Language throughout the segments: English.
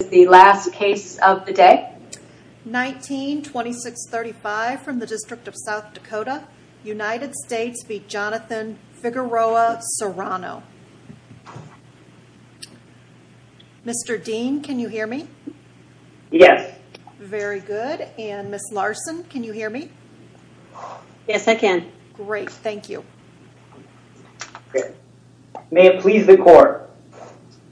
is the last case of the day. 19-2635 from the District of South Dakota, United States v. Jonathan Figueroa-Serrano. Mr. Dean, can you hear me? Yes. Very good. And Ms. Larson, can you hear me? Yes, I can. Great, thank you. May it please the court.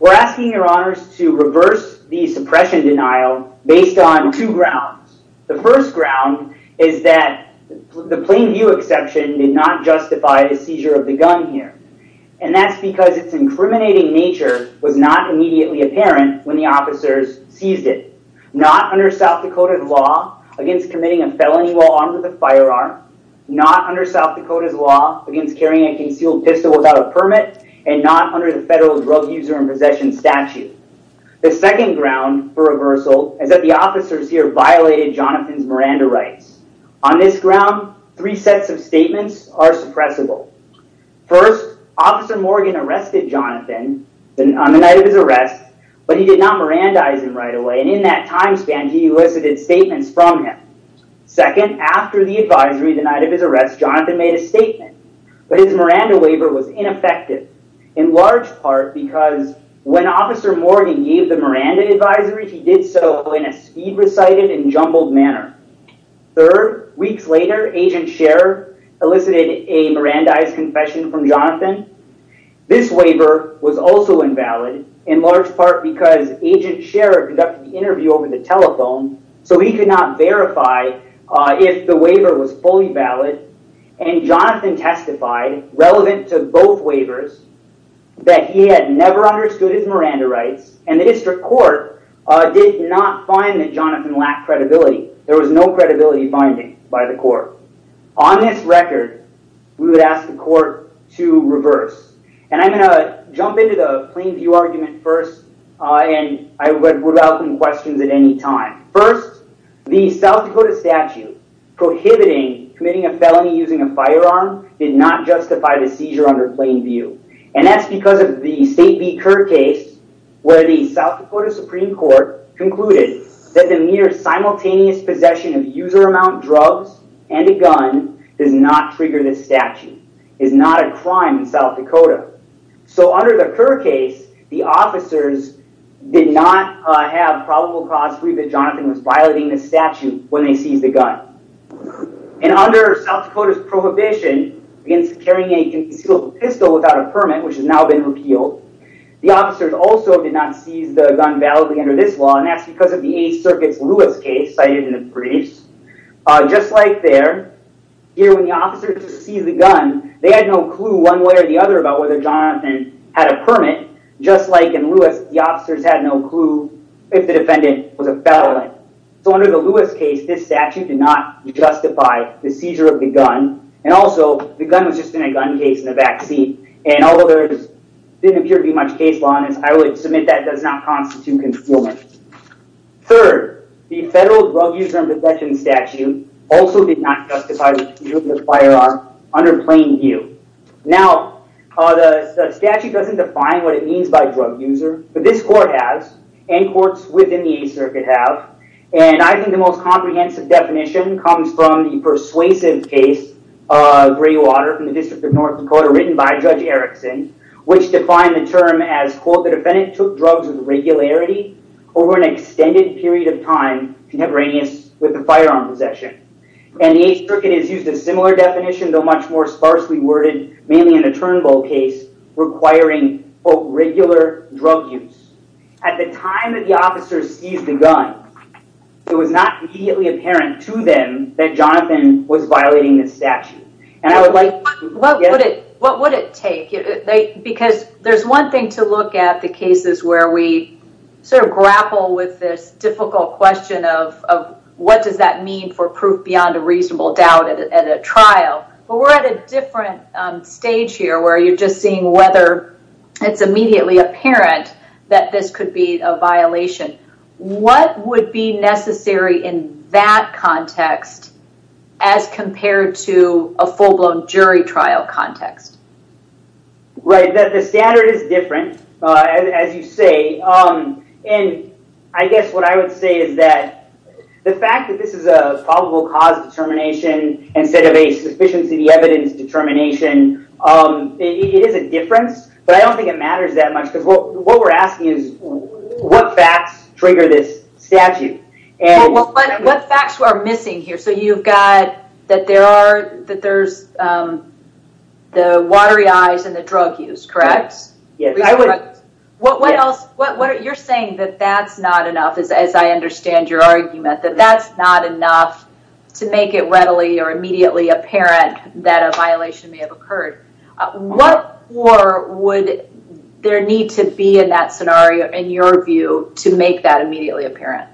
We're asking your attention to the following two cases. The first is a felony suppression denial based on two grounds. The first ground is that the plain view exception did not justify the seizure of the gun here. And that's because its incriminating nature was not immediately apparent when the officers seized it. Not under South Dakota's law against committing a felony while armed with a firearm, not under South Dakota's law against carrying a concealed pistol without a permit, and not under the federal drug user in possession statute. The second ground for reversal is that the officers here violated Jonathan's Miranda rights. On this ground, three sets of statements are suppressible. First, Officer Morgan arrested Jonathan on the night of his arrest, but he did not Mirandize him right away. And in that time span, he elicited statements from him. Second, after the advisory the night of his arrest, Jonathan made a statement, but his Miranda waiver was ineffective, in large part because when Officer Morgan gave the Miranda advisory, he did so in a speed recited and jumbled manner. Third, weeks later, Agent Scherer elicited a Mirandized confession from Jonathan. This waiver was also invalid, in large part because Agent Scherer conducted the interview over the telephone, so he could not verify if the waiver was fully valid. And Jonathan testified, relevant to both waivers, that he had never understood his Miranda rights, and the district court did not find that Jonathan lacked credibility. There was no credibility finding by the court. On this record, we would ask the court to reverse. And I'm going to jump into the First, the South Dakota statute prohibiting committing a felony using a firearm did not justify the seizure under plain view. And that's because of the State v. Kerr case, where the South Dakota Supreme Court concluded that the mere simultaneous possession of user amount drugs and a gun does not trigger this statute, is not a crime in South Dakota. So violating the statute when they seized the gun. And under South Dakota's prohibition against carrying a concealed pistol without a permit, which has now been repealed, the officers also did not seize the gun validly under this law, and that's because of the Eighth Circuit's Lewis case, cited in the briefs. Just like there, here when the officers seized the gun, they had no clue one way or the other about whether Jonathan had a permit, just like in Lewis, the officers had no clue if the defendant was a felon. So under the Lewis case, this statute did not justify the seizure of the gun. And also the gun was just in a gun case in the backseat. And although there didn't appear to be much case law in this, I would submit that does not constitute concealment. Third, the federal drug user and possession statute also did not justify the seizure of the firearm under plain view. Now, the statute doesn't define what it means by drug user, but this court has, and courts within the Eighth Circuit have, and I think the most comprehensive definition comes from the persuasive case of Greywater in the District of North Dakota, written by Judge Erickson, which defined the term as, quote, the defendant took drugs with regularity over an extended period of time, contemporaneous with the firearm possession. And the Eighth Circuit has used a similar definition, though much more sparsely worded, mainly in the Turnbull case, requiring, quote, regular drug use. At the time that the officers seized the gun, it was not immediately apparent to them that Jonathan was violating the statute. And I would like... What would it take? Because there's one thing to look at the cases where we sort of grapple with this trial, but we're at a different stage here where you're just seeing whether it's immediately apparent that this could be a violation. What would be necessary in that context as compared to a full-blown jury trial context? Right. The standard is different, as you say, and I guess what I would say is that the fact that this is a probable cause determination instead of a sufficiency of the evidence determination, it is a difference, but I don't think it matters that much because what we're asking is what facts trigger this statute? Well, what facts are missing here? So you've got that there are, that there's the watery eyes and the drug use, correct? What else? You're saying that that's not enough, as I understand your argument, that that's not enough to make it readily or immediately apparent that a violation may have occurred. What more would there need to be in that scenario, in your view, to make that immediately apparent?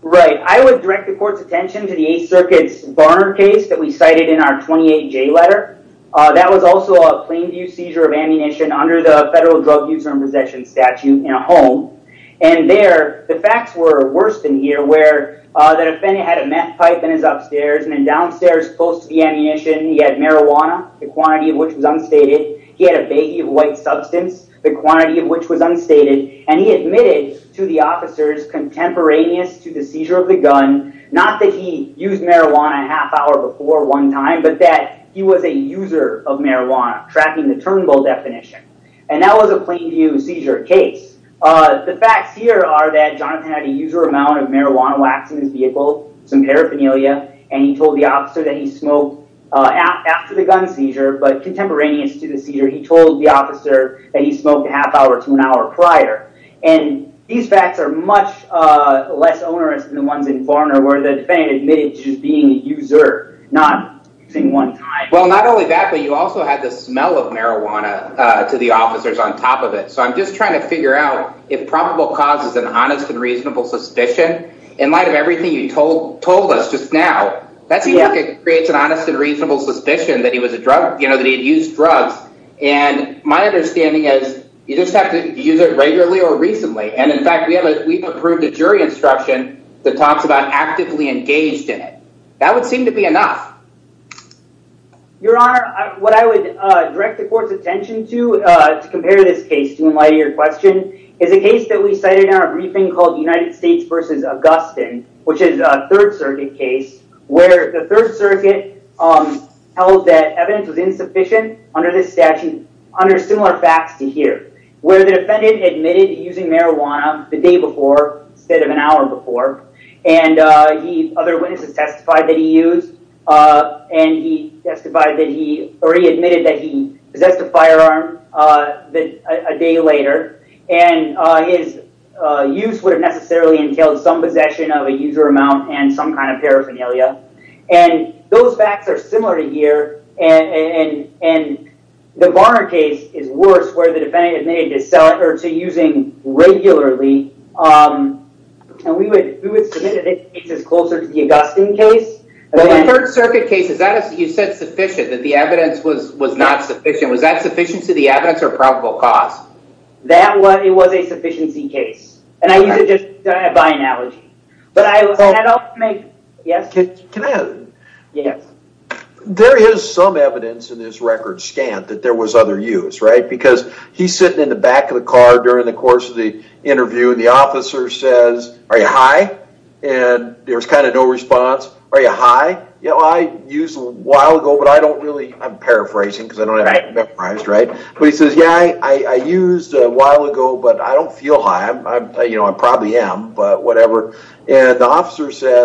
Right. I would direct the court's attention to the Eighth Circuit's Barnard case that we cited in our 28J letter. That was also a plain view seizure of ammunition under the federal drug use and possession statute in a home, and there the facts were worse than here, where the defendant had a meth pipe in his upstairs, and then downstairs, close to the ammunition, he had marijuana, the quantity of which was unstated. He had a baggie of white substance, the quantity of which was unstated, and he admitted to the officers contemporaneous to the seizure of the gun, not that he used marijuana a half hour before one time, but that he was a user of marijuana, tracking the turnbull definition. And that was a plain view seizure case. The facts here are that Jonathan had a user amount of marijuana wax in his vehicle, some paraphernalia, and he told the officer that he smoked after the gun seizure, but contemporaneous to the facts are much less onerous than the ones in Barnard, where the defendant admitted to just being a user, not using one time. Well, not only that, but you also had the smell of marijuana to the officers on top of it. So I'm just trying to figure out if probable cause is an honest and reasonable suspicion. In light of everything you told us just now, that seems like it creates an honest and reasonable suspicion that he was a drug, you know, that he'd used drugs. And my understanding is, you just have to use it regularly or recently. And in fact, we have, we've approved a jury instruction that talks about actively engaged in it. That would seem to be enough. Your Honor, what I would direct the court's attention to, to compare this case to in light of your question, is a case that we cited in our briefing called the United States versus Augustine, which is a Third Circuit case, where the Third Circuit held that evidence was insufficient under this statute, under similar facts to here, where the defendant admitted using marijuana the day before, instead of an hour before, and the other witnesses testified that he used, and he testified that he, or he admitted that he possessed a firearm a day later. And his use would have necessarily entailed some possession of a user amount and some kind of paraphernalia. And those facts are similar to here. And the Varner case is worse, where the defendant admitted to using regularly. And we would submit a case that's closer to the Augustine case. The Third Circuit case, is that, you said sufficient, that the evidence was not sufficient. Was that sufficiency of the evidence or probable cause? That was, it was a sufficiency case. And I use it just by analogy. But I, I don't make, yes? Can I? Yes. There is some evidence in this record scan that there was other use, right? Because he's sitting in the back of the car during the course of the interview, and the officer says, are you high? And there's kind of no response. Are you high? You know, I used a while ago, but I don't really, I'm paraphrasing because I don't have it memorized, right? But he says, yeah, I used a while ago, but I don't feel high. I'm, you know, I probably am, but I don't feel high.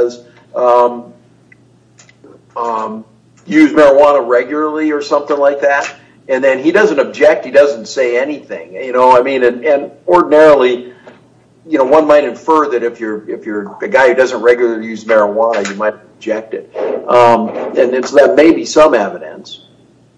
I use marijuana regularly or something like that. And then he doesn't object. He doesn't say anything, you know, I mean, and ordinarily, you know, one might infer that if you're, if you're a guy who doesn't regularly use marijuana, you might object it. And it's, that may be some evidence.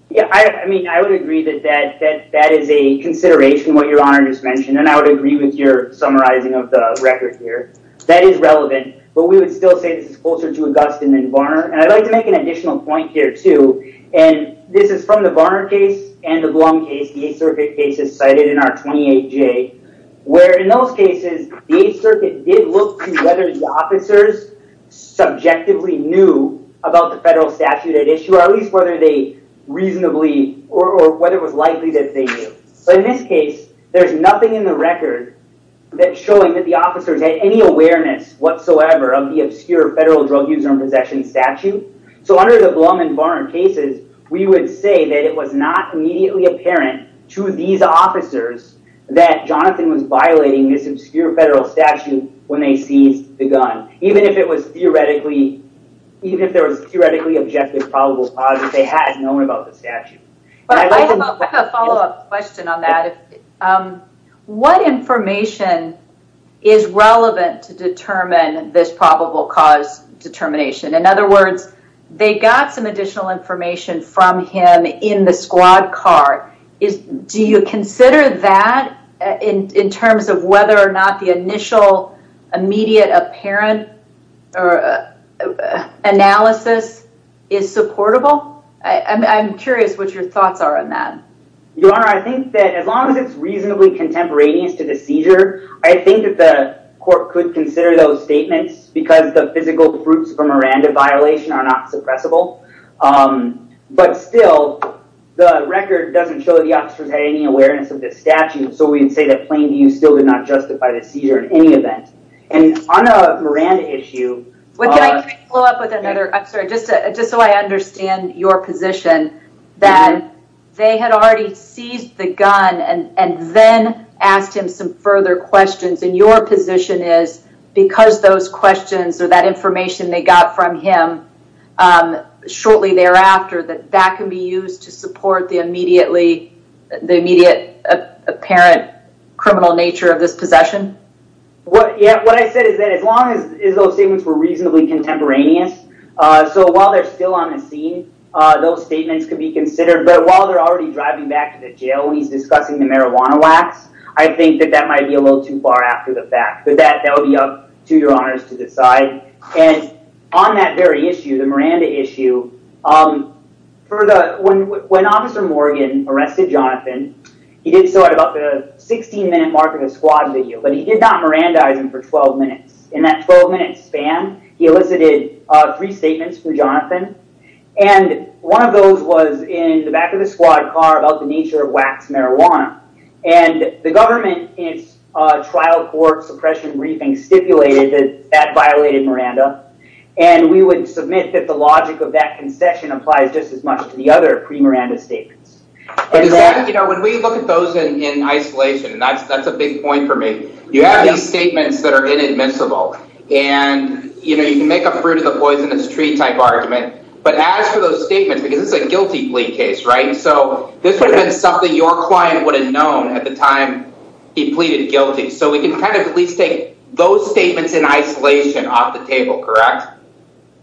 Yeah, I mean, I would agree that that, that, that is a consideration, what Your Honor just mentioned. And I would agree with your summarizing of the record here. That is relevant, but we would still say this is closer to Augustine than Varner. And I'd like to make an additional point here too. And this is from the Varner case and the Blum case, the Eighth Circuit cases cited in our 28J, where in those cases, the Eighth Circuit did look to whether the officers subjectively knew about the federal statute at issue, or at least whether they reasonably or whether it was likely that they knew. So in this case, there's nothing in the record that's showing that the officers had any awareness whatsoever of the obscure federal drug use and possession statute. So under the Blum and Varner cases, we would say that it was not immediately apparent to these officers that Jonathan was violating this obscure federal statute when they seized the gun, even if it was theoretically, even if it wasn't theoretically, is relevant to determine this probable cause determination. In other words, they got some additional information from him in the squad car. Do you consider that in terms of whether or not the initial, immediate apparent analysis is supportable? I'm curious what your thoughts are on that. Your Honor, I think that as long as it's reasonably contemporaneous to the seizure, I think that the court could consider those statements because the physical fruits of a Miranda violation are not suppressible. But still, the record doesn't show that the officers had any awareness of the statute. So we can say that plain view still did not justify the seizure in any event. And on a Miranda basis, I think that the court could consider those statements because the officer had already seized the gun and then asked him some further questions. And your position is because those questions or that information they got from him shortly thereafter, that that can be used to support the immediate apparent criminal nature of this possession? What I said is that as long as those statements were reasonably contemporaneous, so while they're still on the scene, those statements could be considered. But while they're already driving back to the jail and he's discussing the marijuana wax, I think that that might be a little too far after the fact. But that would be up to your honors to decide. And on that very issue, the Miranda issue, when Officer Morgan arrested Jonathan, he did so at about the 16 minute mark of the squad video. But he did not Mirandize him for 12 minutes. In that 12 minute span, he elicited three statements from Jonathan. And one of those was in the back of the squad car about the nature of wax marijuana. And the government in its trial court suppression briefing stipulated that that violated Miranda. And we would submit that the logic of that concession applies just as much to the other pre-Miranda statements. You know, when we look at those in isolation, and that's that's a big point for me. You have these statements that are inadmissible. And, you know, you can make a fruit of the poisonous tree type argument. But as for those statements, because it's a guilty plea case, right? So this would have been something your client would have known at the time he pleaded guilty. So we can kind of at least take those statements in isolation off the table, correct?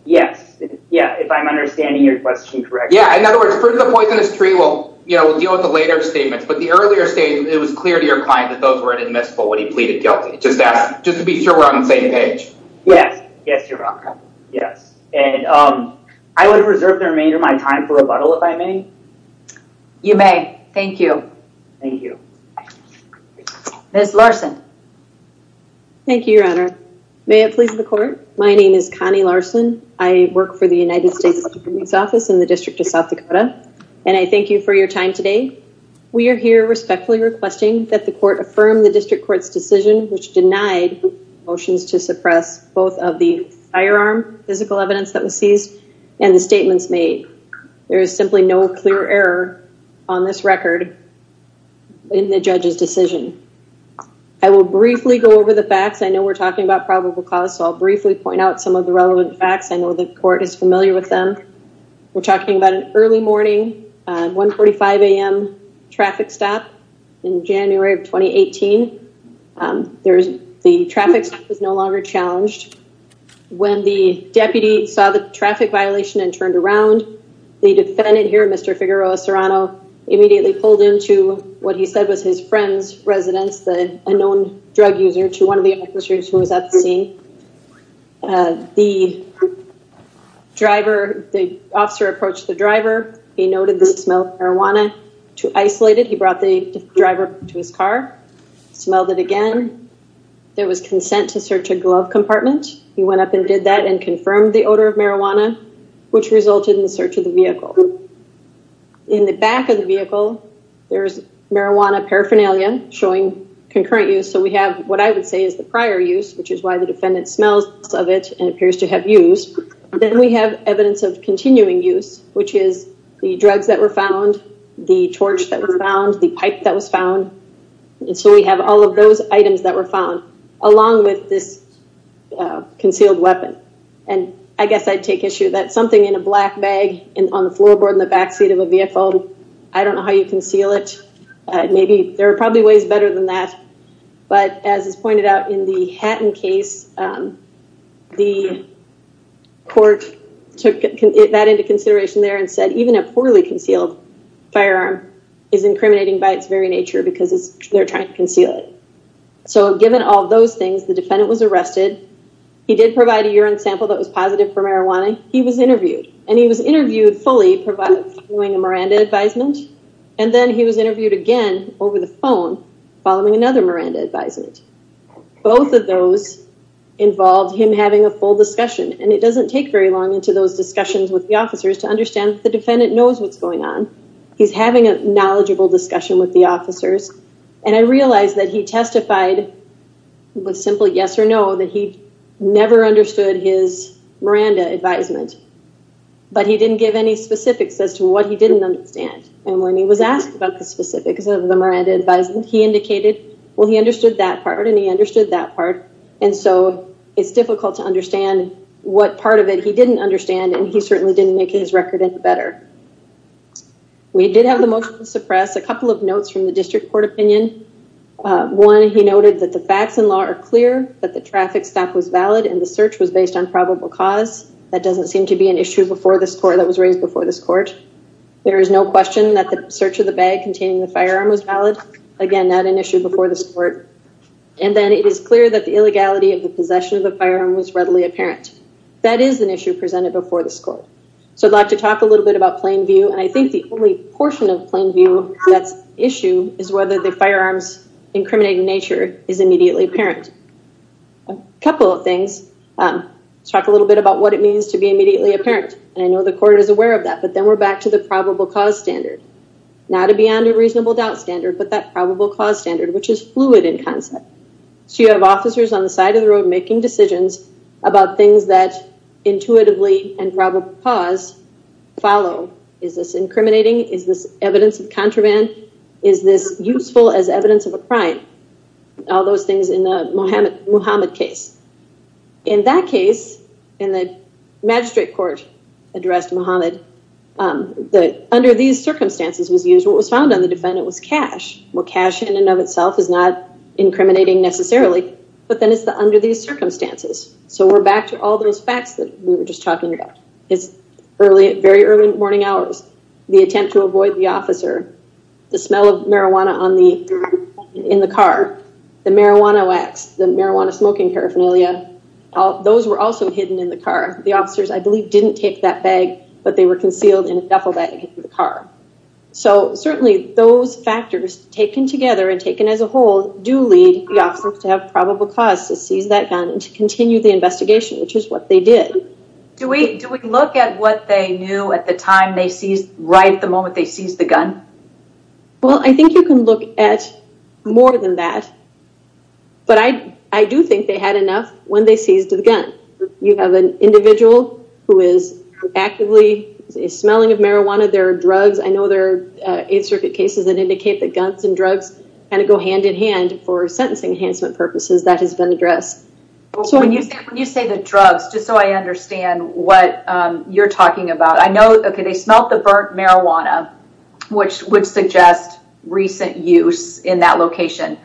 Yes. Yeah. If I'm understanding your question, correct. Yeah. In other words, fruit of the poisonous tree. We'll, you know, we'll deal with the later statements. But the earlier statement, it was clear to your client that those were inadmissible when he pleaded guilty. Just to be sure we're on the same page. Yes. Yes. You're welcome. Yes. And I would reserve the remainder of my time for rebuttal if I may. You may. Thank you. Thank you. Ms. Larson. Thank you, Your Honor. May it please the court. My name is Connie Larson. I work for the United States District Attorney's Office in the District of South Dakota. And I thank you for your time today. We are here respectfully requesting that the court affirm the district court's decision, which denied motions to suppress both of the firearm physical evidence that was seized and the statements made. There is simply no clear error on this record in the judge's decision. I will briefly go over the facts. I know we're talking about probable cause. So I'll briefly point out some of the relevant facts. I know the court is familiar with them. We're talking about an early morning, 1.45 a.m. traffic stop in January of 2018. The traffic stop was no longer challenged. When the deputy saw the traffic violation and turned around, the defendant here, Mr. Figueroa Serrano, immediately pulled into what he said was his friend's residence, a known drug user to one of the officers who was at the scene. The officer approached the driver. He noted the smell of marijuana. To isolate it, he brought the driver to his car, smelled it again. There was consent to search a glove compartment. He went up and did that and confirmed the odor of marijuana, which resulted in the search of the vehicle. In the back of the vehicle, there's marijuana paraphernalia showing concurrent use. So we have what I would say is the prior use, which is why the defendant smells of it and appears to have used. Then we have evidence of continuing use, which is the drugs that were found, the torch that was found, the pipe that was found. So we have all of those items that were found along with this concealed weapon. I guess I'd take issue that something in a black bag on the floorboard in the backseat of a vehicle, I don't know how you conceal it. There are probably ways better than that. But as is pointed out in the Hatton case, the court took that into consideration there and said, even a poorly concealed firearm is incriminating by its very nature because they're trying to conceal it. So given all those things, the defendant was arrested. He did provide a urine sample that was positive for marijuana. He was interviewed and he was interviewed fully, following a Miranda advisement, and then he was interviewed again over the phone, following another Miranda. Both of those involved him having a full discussion, and it doesn't take very long into those discussions with the officers to understand the defendant knows what's going on. He's having a knowledgeable discussion with the officers, and I realized that he testified with simple yes or no, that he never understood his Miranda advisement, but he didn't give any specifics as to what he didn't understand. And when he was asked about the specifics of the Miranda advisement, he indicated, well, he understood that part and he understood that part. And so it's difficult to understand what part of it he didn't understand, and he certainly didn't make his record better. We did have the motion to suppress a couple of notes from the district court opinion. One, he noted that the facts in law are clear, that the traffic stop was valid and the search was based on probable cause. That doesn't seem to be an issue before this court that was raised before this court. There is no question that the search of the bag containing the firearm was valid. Again, not an issue before this court. And then it is clear that the illegality of the possession of the firearm was readily apparent. That is an issue presented before this court. So I'd like to talk a little bit about plain view, and I think the only portion of plain view that's an issue is whether the firearm's incriminating nature is immediately apparent. A couple of things. Let's talk a little bit about what it means to be immediately apparent. And I know the court is aware of that, but then we're back to the probable cause standard. Not a beyond a reasonable doubt standard, but that probable cause standard, which is fluid in concept. So you have officers on the side of the road making decisions about things that intuitively and probable cause follow. Is this incriminating? Is this evidence of contraband? Is this useful as evidence of a crime? All those things in the Muhammad case. In that case, in the magistrate court addressed Muhammad, under these circumstances was used, what was found on the defendant was cash. Well, cash in and of itself is not incriminating necessarily, but then it's the under these circumstances. So we're back to all those facts that we were just talking about. It's early, very early morning hours. The attempt to avoid the officer, the smell of marijuana in the car, the marijuana wax, the marijuana smoking paraphernalia. Those were also hidden in the car. The officers, I believe, didn't take that bag, but they were concealed in a duffel bag in the car. So certainly those factors taken together and taken as a whole do lead the officers to have probable cause to seize that gun and to continue the investigation, which is what they did. Do we do we look at what they knew at the time they seized right at the moment they seized the gun? Well, I think you can look at more than that, but I do think they had enough when they seized the gun. You have an individual who is actively smelling of marijuana. There are drugs. I know there are eight circuit cases that indicate that guns and drugs kind of go hand in hand for sentencing enhancement purposes that has been addressed. When you say the drugs, just so I understand what you're talking about, I know they smelled the burnt marijuana, which would suggest recent use in that location.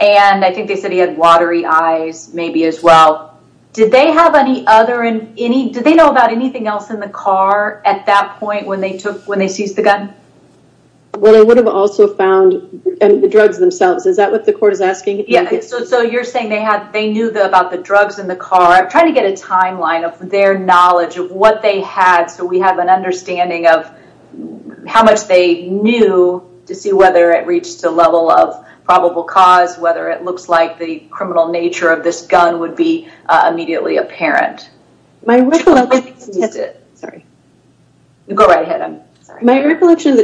And I think they said he had watery eyes maybe as well. Did they have any other in any did they know about anything else in the car at that point when they took when they seized the gun? Well, I would have also found the drugs themselves. Is that what the court is asking? Yeah. So you're saying they had they knew about the drugs in the car. I'm trying to get a timeline of their knowledge of what they had. So we have an understanding of how much they knew to see whether it reached a level of probable cause, whether it looks like the criminal nature of this gun would be immediately apparent. My recollection of the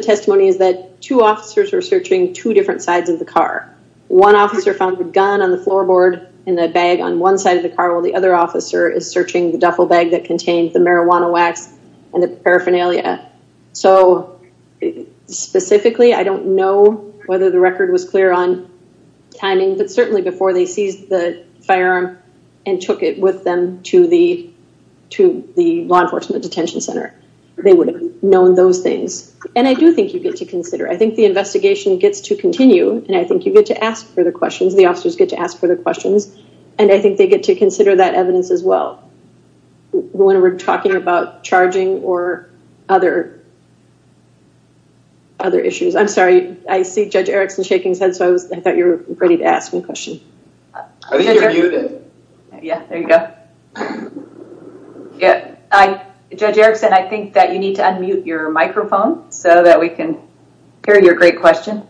testimony is that two officers were searching two different sides of the car. One officer found a gun on the floorboard in the bag on one side of the car, while the other officer is searching the duffel bag that contains the marijuana wax and the paraphernalia. So specifically, I don't know whether the record was clear on timing, but certainly before they seized the firearm and took it with them to the to the law enforcement detention center, they would have known those things. And I do think you get to consider. I think the investigation gets to continue. And I think you get to ask further questions. The officers get to ask further questions. And I think they get to consider that evidence as well. When we're talking about charging or other issues. I'm sorry. I see Judge Erickson shaking his head. So I thought you were ready to ask me a question. I think you're muted. Yeah, there you go. Yeah. Judge Erickson, I think that you need to unmute your microphone so that we can hear your great question.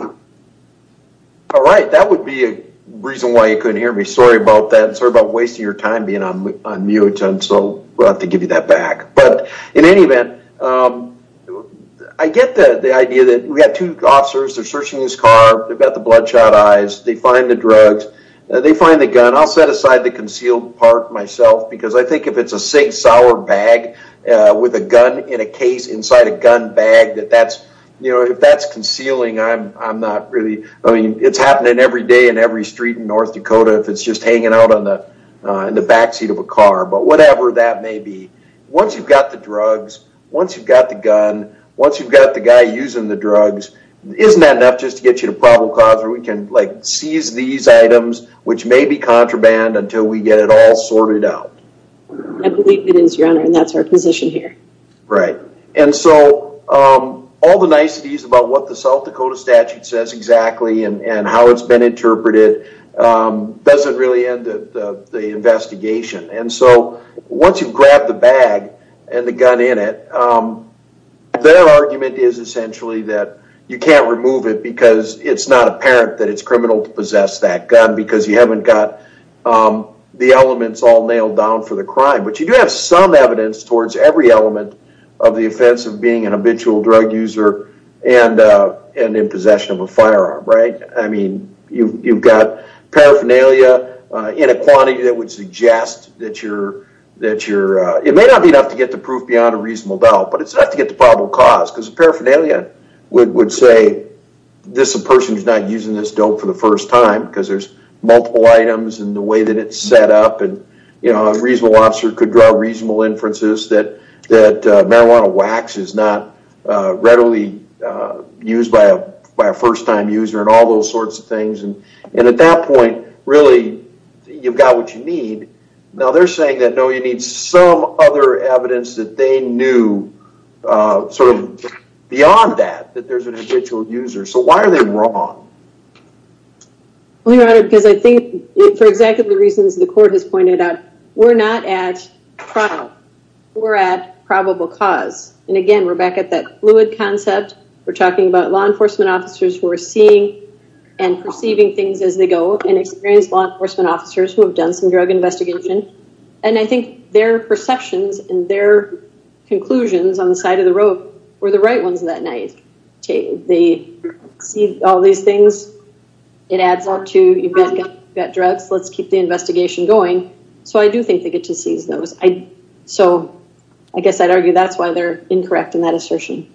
All right. That would be a reason why you couldn't hear me. Sorry about that. Sorry about wasting your time being on mute. So we'll have to give you that back. But in any event, I get the idea that we have two officers, they're searching this car, they've got the bloodshot eyes, they find the drugs, they find the gun. And I'll set aside the concealed part myself, because I think if it's a SIG Sauer bag with a gun in a case inside a gun bag that that's, you know, if that's concealing, I'm not really, I mean, it's happening every day in every street in North Dakota, if it's just hanging out on the backseat of a car, but whatever that may be. Once you've got the drugs, once you've got the gun, once you've got the guy using the drugs, isn't that enough just to get you to probable cause where we can like seize these items, which may be contraband until we get it all sorted out? I believe it is, Your Honor, and that's our position here. Right. And so all the niceties about what the South Dakota statute says exactly and how it's been interpreted doesn't really end the investigation. And so once you've grabbed the bag and the gun in it, their argument is essentially that you can't remove it because it's not apparent that it's criminal to possess that gun because you haven't got the elements all nailed down for the crime. But you do have some evidence towards every element of the offense of being an habitual drug user and in possession of a firearm, right? I mean, you've got paraphernalia in a quantity that would suggest that you're, that you're, it may not be enough to get the proof beyond a reasonable doubt, but it's enough to get the probable cause because paraphernalia would say this person's not using this dope for the first time because there's multiple items and the way that it's set up and, you know, a reasonable officer could draw reasonable inferences that marijuana wax is not readily used by a first time user and all those sorts of things. And at that point, really, you've got what you need. Now, they're saying that, no, you need some other evidence that they knew sort of beyond that, that there's an habitual user. So why are they wrong? Well, Your Honor, because I think for exactly the reasons the court has pointed out, we're not at trial. We're at probable cause. And again, we're back at that fluid concept. We're talking about law enforcement officers who are seeing and perceiving things as they go and experienced law enforcement officers who have done some drug investigation. And I think their perceptions and their conclusions on the side of the road were the right ones that night. They see all these things. It adds up to you've got drugs. Let's keep the investigation going. So I do think they get to seize those. So I guess I'd argue that's why they're incorrect in that assertion.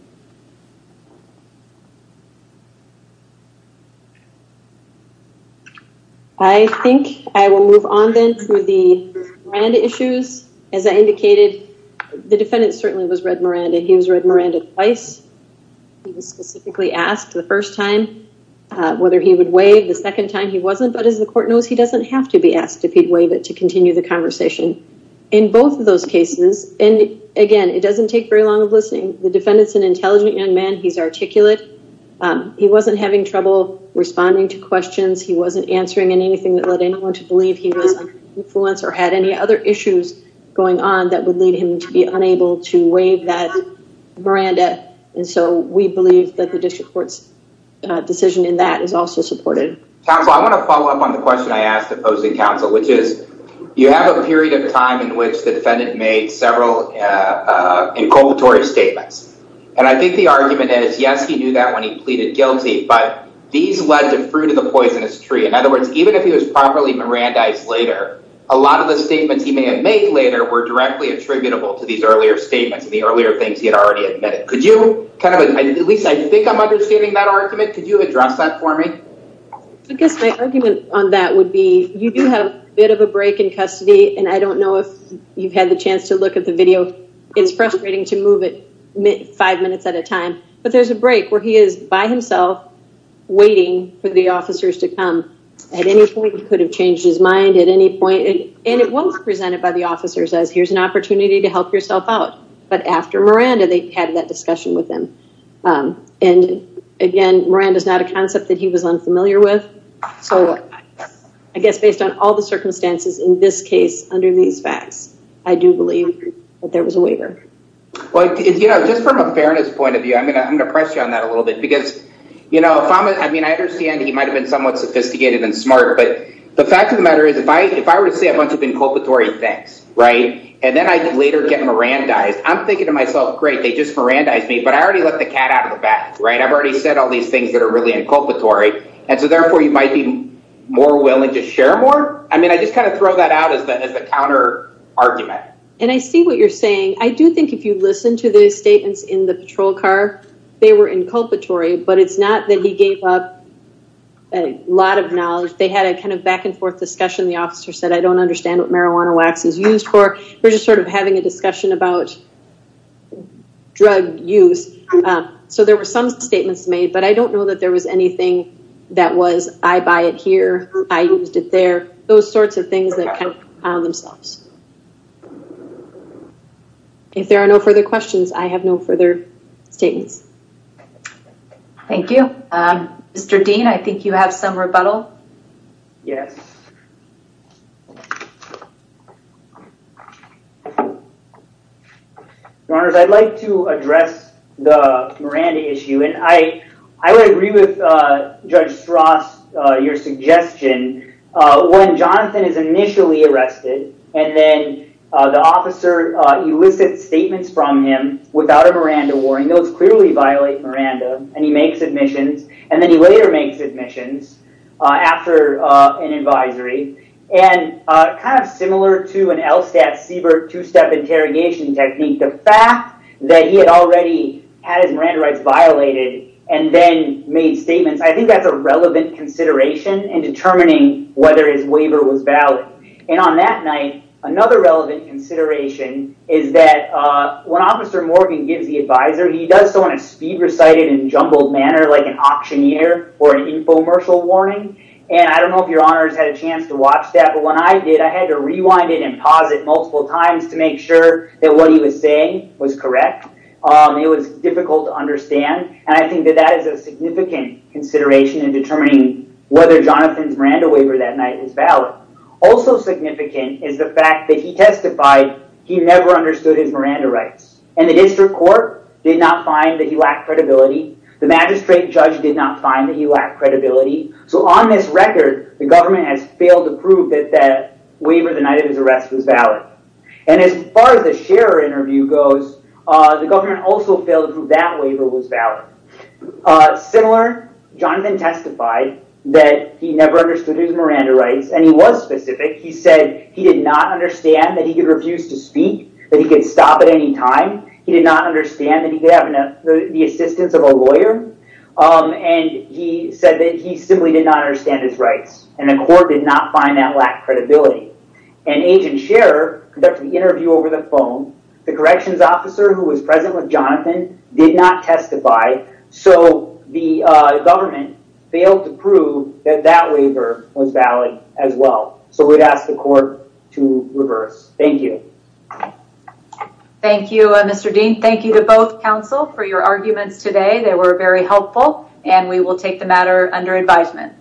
I think I will move on then to the Miranda issues. As I indicated, the defendant certainly was read Miranda. He was read Miranda twice. He was specifically asked the first time whether he would waive the second time. He wasn't. But as the court knows, he doesn't have to be asked if he'd waive it to continue the conversation in both of those cases. And again, it doesn't take very long of listening. The defendant's an intelligent young man. He's articulate. He wasn't having trouble responding to questions. He wasn't answering anything that led anyone to believe he was an influence or had any other issues going on that would lead him to be unable to waive that Miranda. And so we believe that the district court's decision in that is also supported. I want to follow up on the question I asked the opposing counsel, which is you have a period of time in which the defendant made several inculpatory statements. And I think the argument is, yes, he knew that when he pleaded guilty. But these led to fruit of the poisonous tree. In other words, even if he was properly Miranda later, a lot of the statements he may have made later were directly attributable to these earlier statements. The earlier things he had already admitted. Could you kind of at least I think I'm understanding that argument. Could you address that for me? I guess my argument on that would be you do have a bit of a break in custody. And I don't know if you've had the chance to look at the video. It's frustrating to move it five minutes at a time. But there's a break where he is by himself waiting for the officers to come. At any point he could have changed his mind at any point. And it was presented by the officers as here's an opportunity to help yourself out. But after Miranda, they had that discussion with him. And again, Miranda is not a concept that he was unfamiliar with. So I guess based on all the circumstances in this case, under these facts, I do believe that there was a waiver. Just from a fairness point of view, I'm gonna I'm gonna press you on that a little bit. Because, you know, I mean, I understand he might have been somewhat sophisticated and smart. But the fact of the matter is, if I if I were to say a bunch of inculpatory things, right, and then I later get Miranda eyes, I'm thinking to myself, great, they just Miranda eyes me, but I already let the cat out of the bag, right? I've already said all these things that are really inculpatory. And so therefore, you might be more willing to share more. I mean, I just kind of throw that out as the counter argument. And I see what you're saying. I do think if you listen to the statements in the patrol car, they were inculpatory, but it's not that he gave up a lot of knowledge, they had a kind of back and forth discussion, the officer said, I don't understand what marijuana wax is used for. We're just sort of having a discussion about drug use. So there were some statements made, but I don't know that there was anything that was I buy it here, I used it there, those sorts of things that kind of found themselves. If there are no further questions, I have no further statements. Thank you, Mr. Dean. I think you have some rebuttal. Yes. I'd like to address the Miranda issue. And I, I would agree with Judge Strauss, your suggestion. When Jonathan is initially arrested, and then the officer elicits statements from him without a Miranda warning, those clearly violate Miranda, and he makes admissions, and then he later makes admissions after an advisory. And kind of similar to an LSAT CBER two-step interrogation technique, the fact that he had already had his Miranda rights violated, and then made statements, I think that's a relevant consideration in determining whether his waiver was valid. And on that night, another relevant consideration is that when Officer Morgan gives the advisory, he does so in a speed recited and jumbled manner, like an auctioneer or an infomercial warning. And I don't know if your honors had a chance to watch that, but when I did, I had to rewind it and pause it multiple times to make sure that what he was saying was correct. It was difficult to understand. And I think that that is a significant consideration in determining whether Jonathan's Miranda waiver that night is valid. Also significant is the fact that he testified he never understood his Miranda rights. And the district court did not find that he lacked credibility. The magistrate judge did not find that he lacked credibility. So on this record, the government has failed to prove that that waiver the night of his arrest was valid. And as far as the Scherer interview goes, the government also failed to prove that waiver was valid. Similar, Jonathan testified that he never understood his Miranda rights. And he was specific. He said he did not understand that he could refuse to speak, that he could stop at any time. He did not understand that he could have the assistance of a lawyer. And he said that he simply did not understand his rights. And the court did not find that lacked credibility. And Agent Scherer conducted the interview over the phone. The corrections officer who was present with Jonathan did not testify. So the government failed to prove that that waiver was valid as well. So we'd ask the court to reverse. Thank you. Thank you, Mr. Dean. Thank you to both counsel for your arguments today. They were very helpful. And we will take the matter under advisement.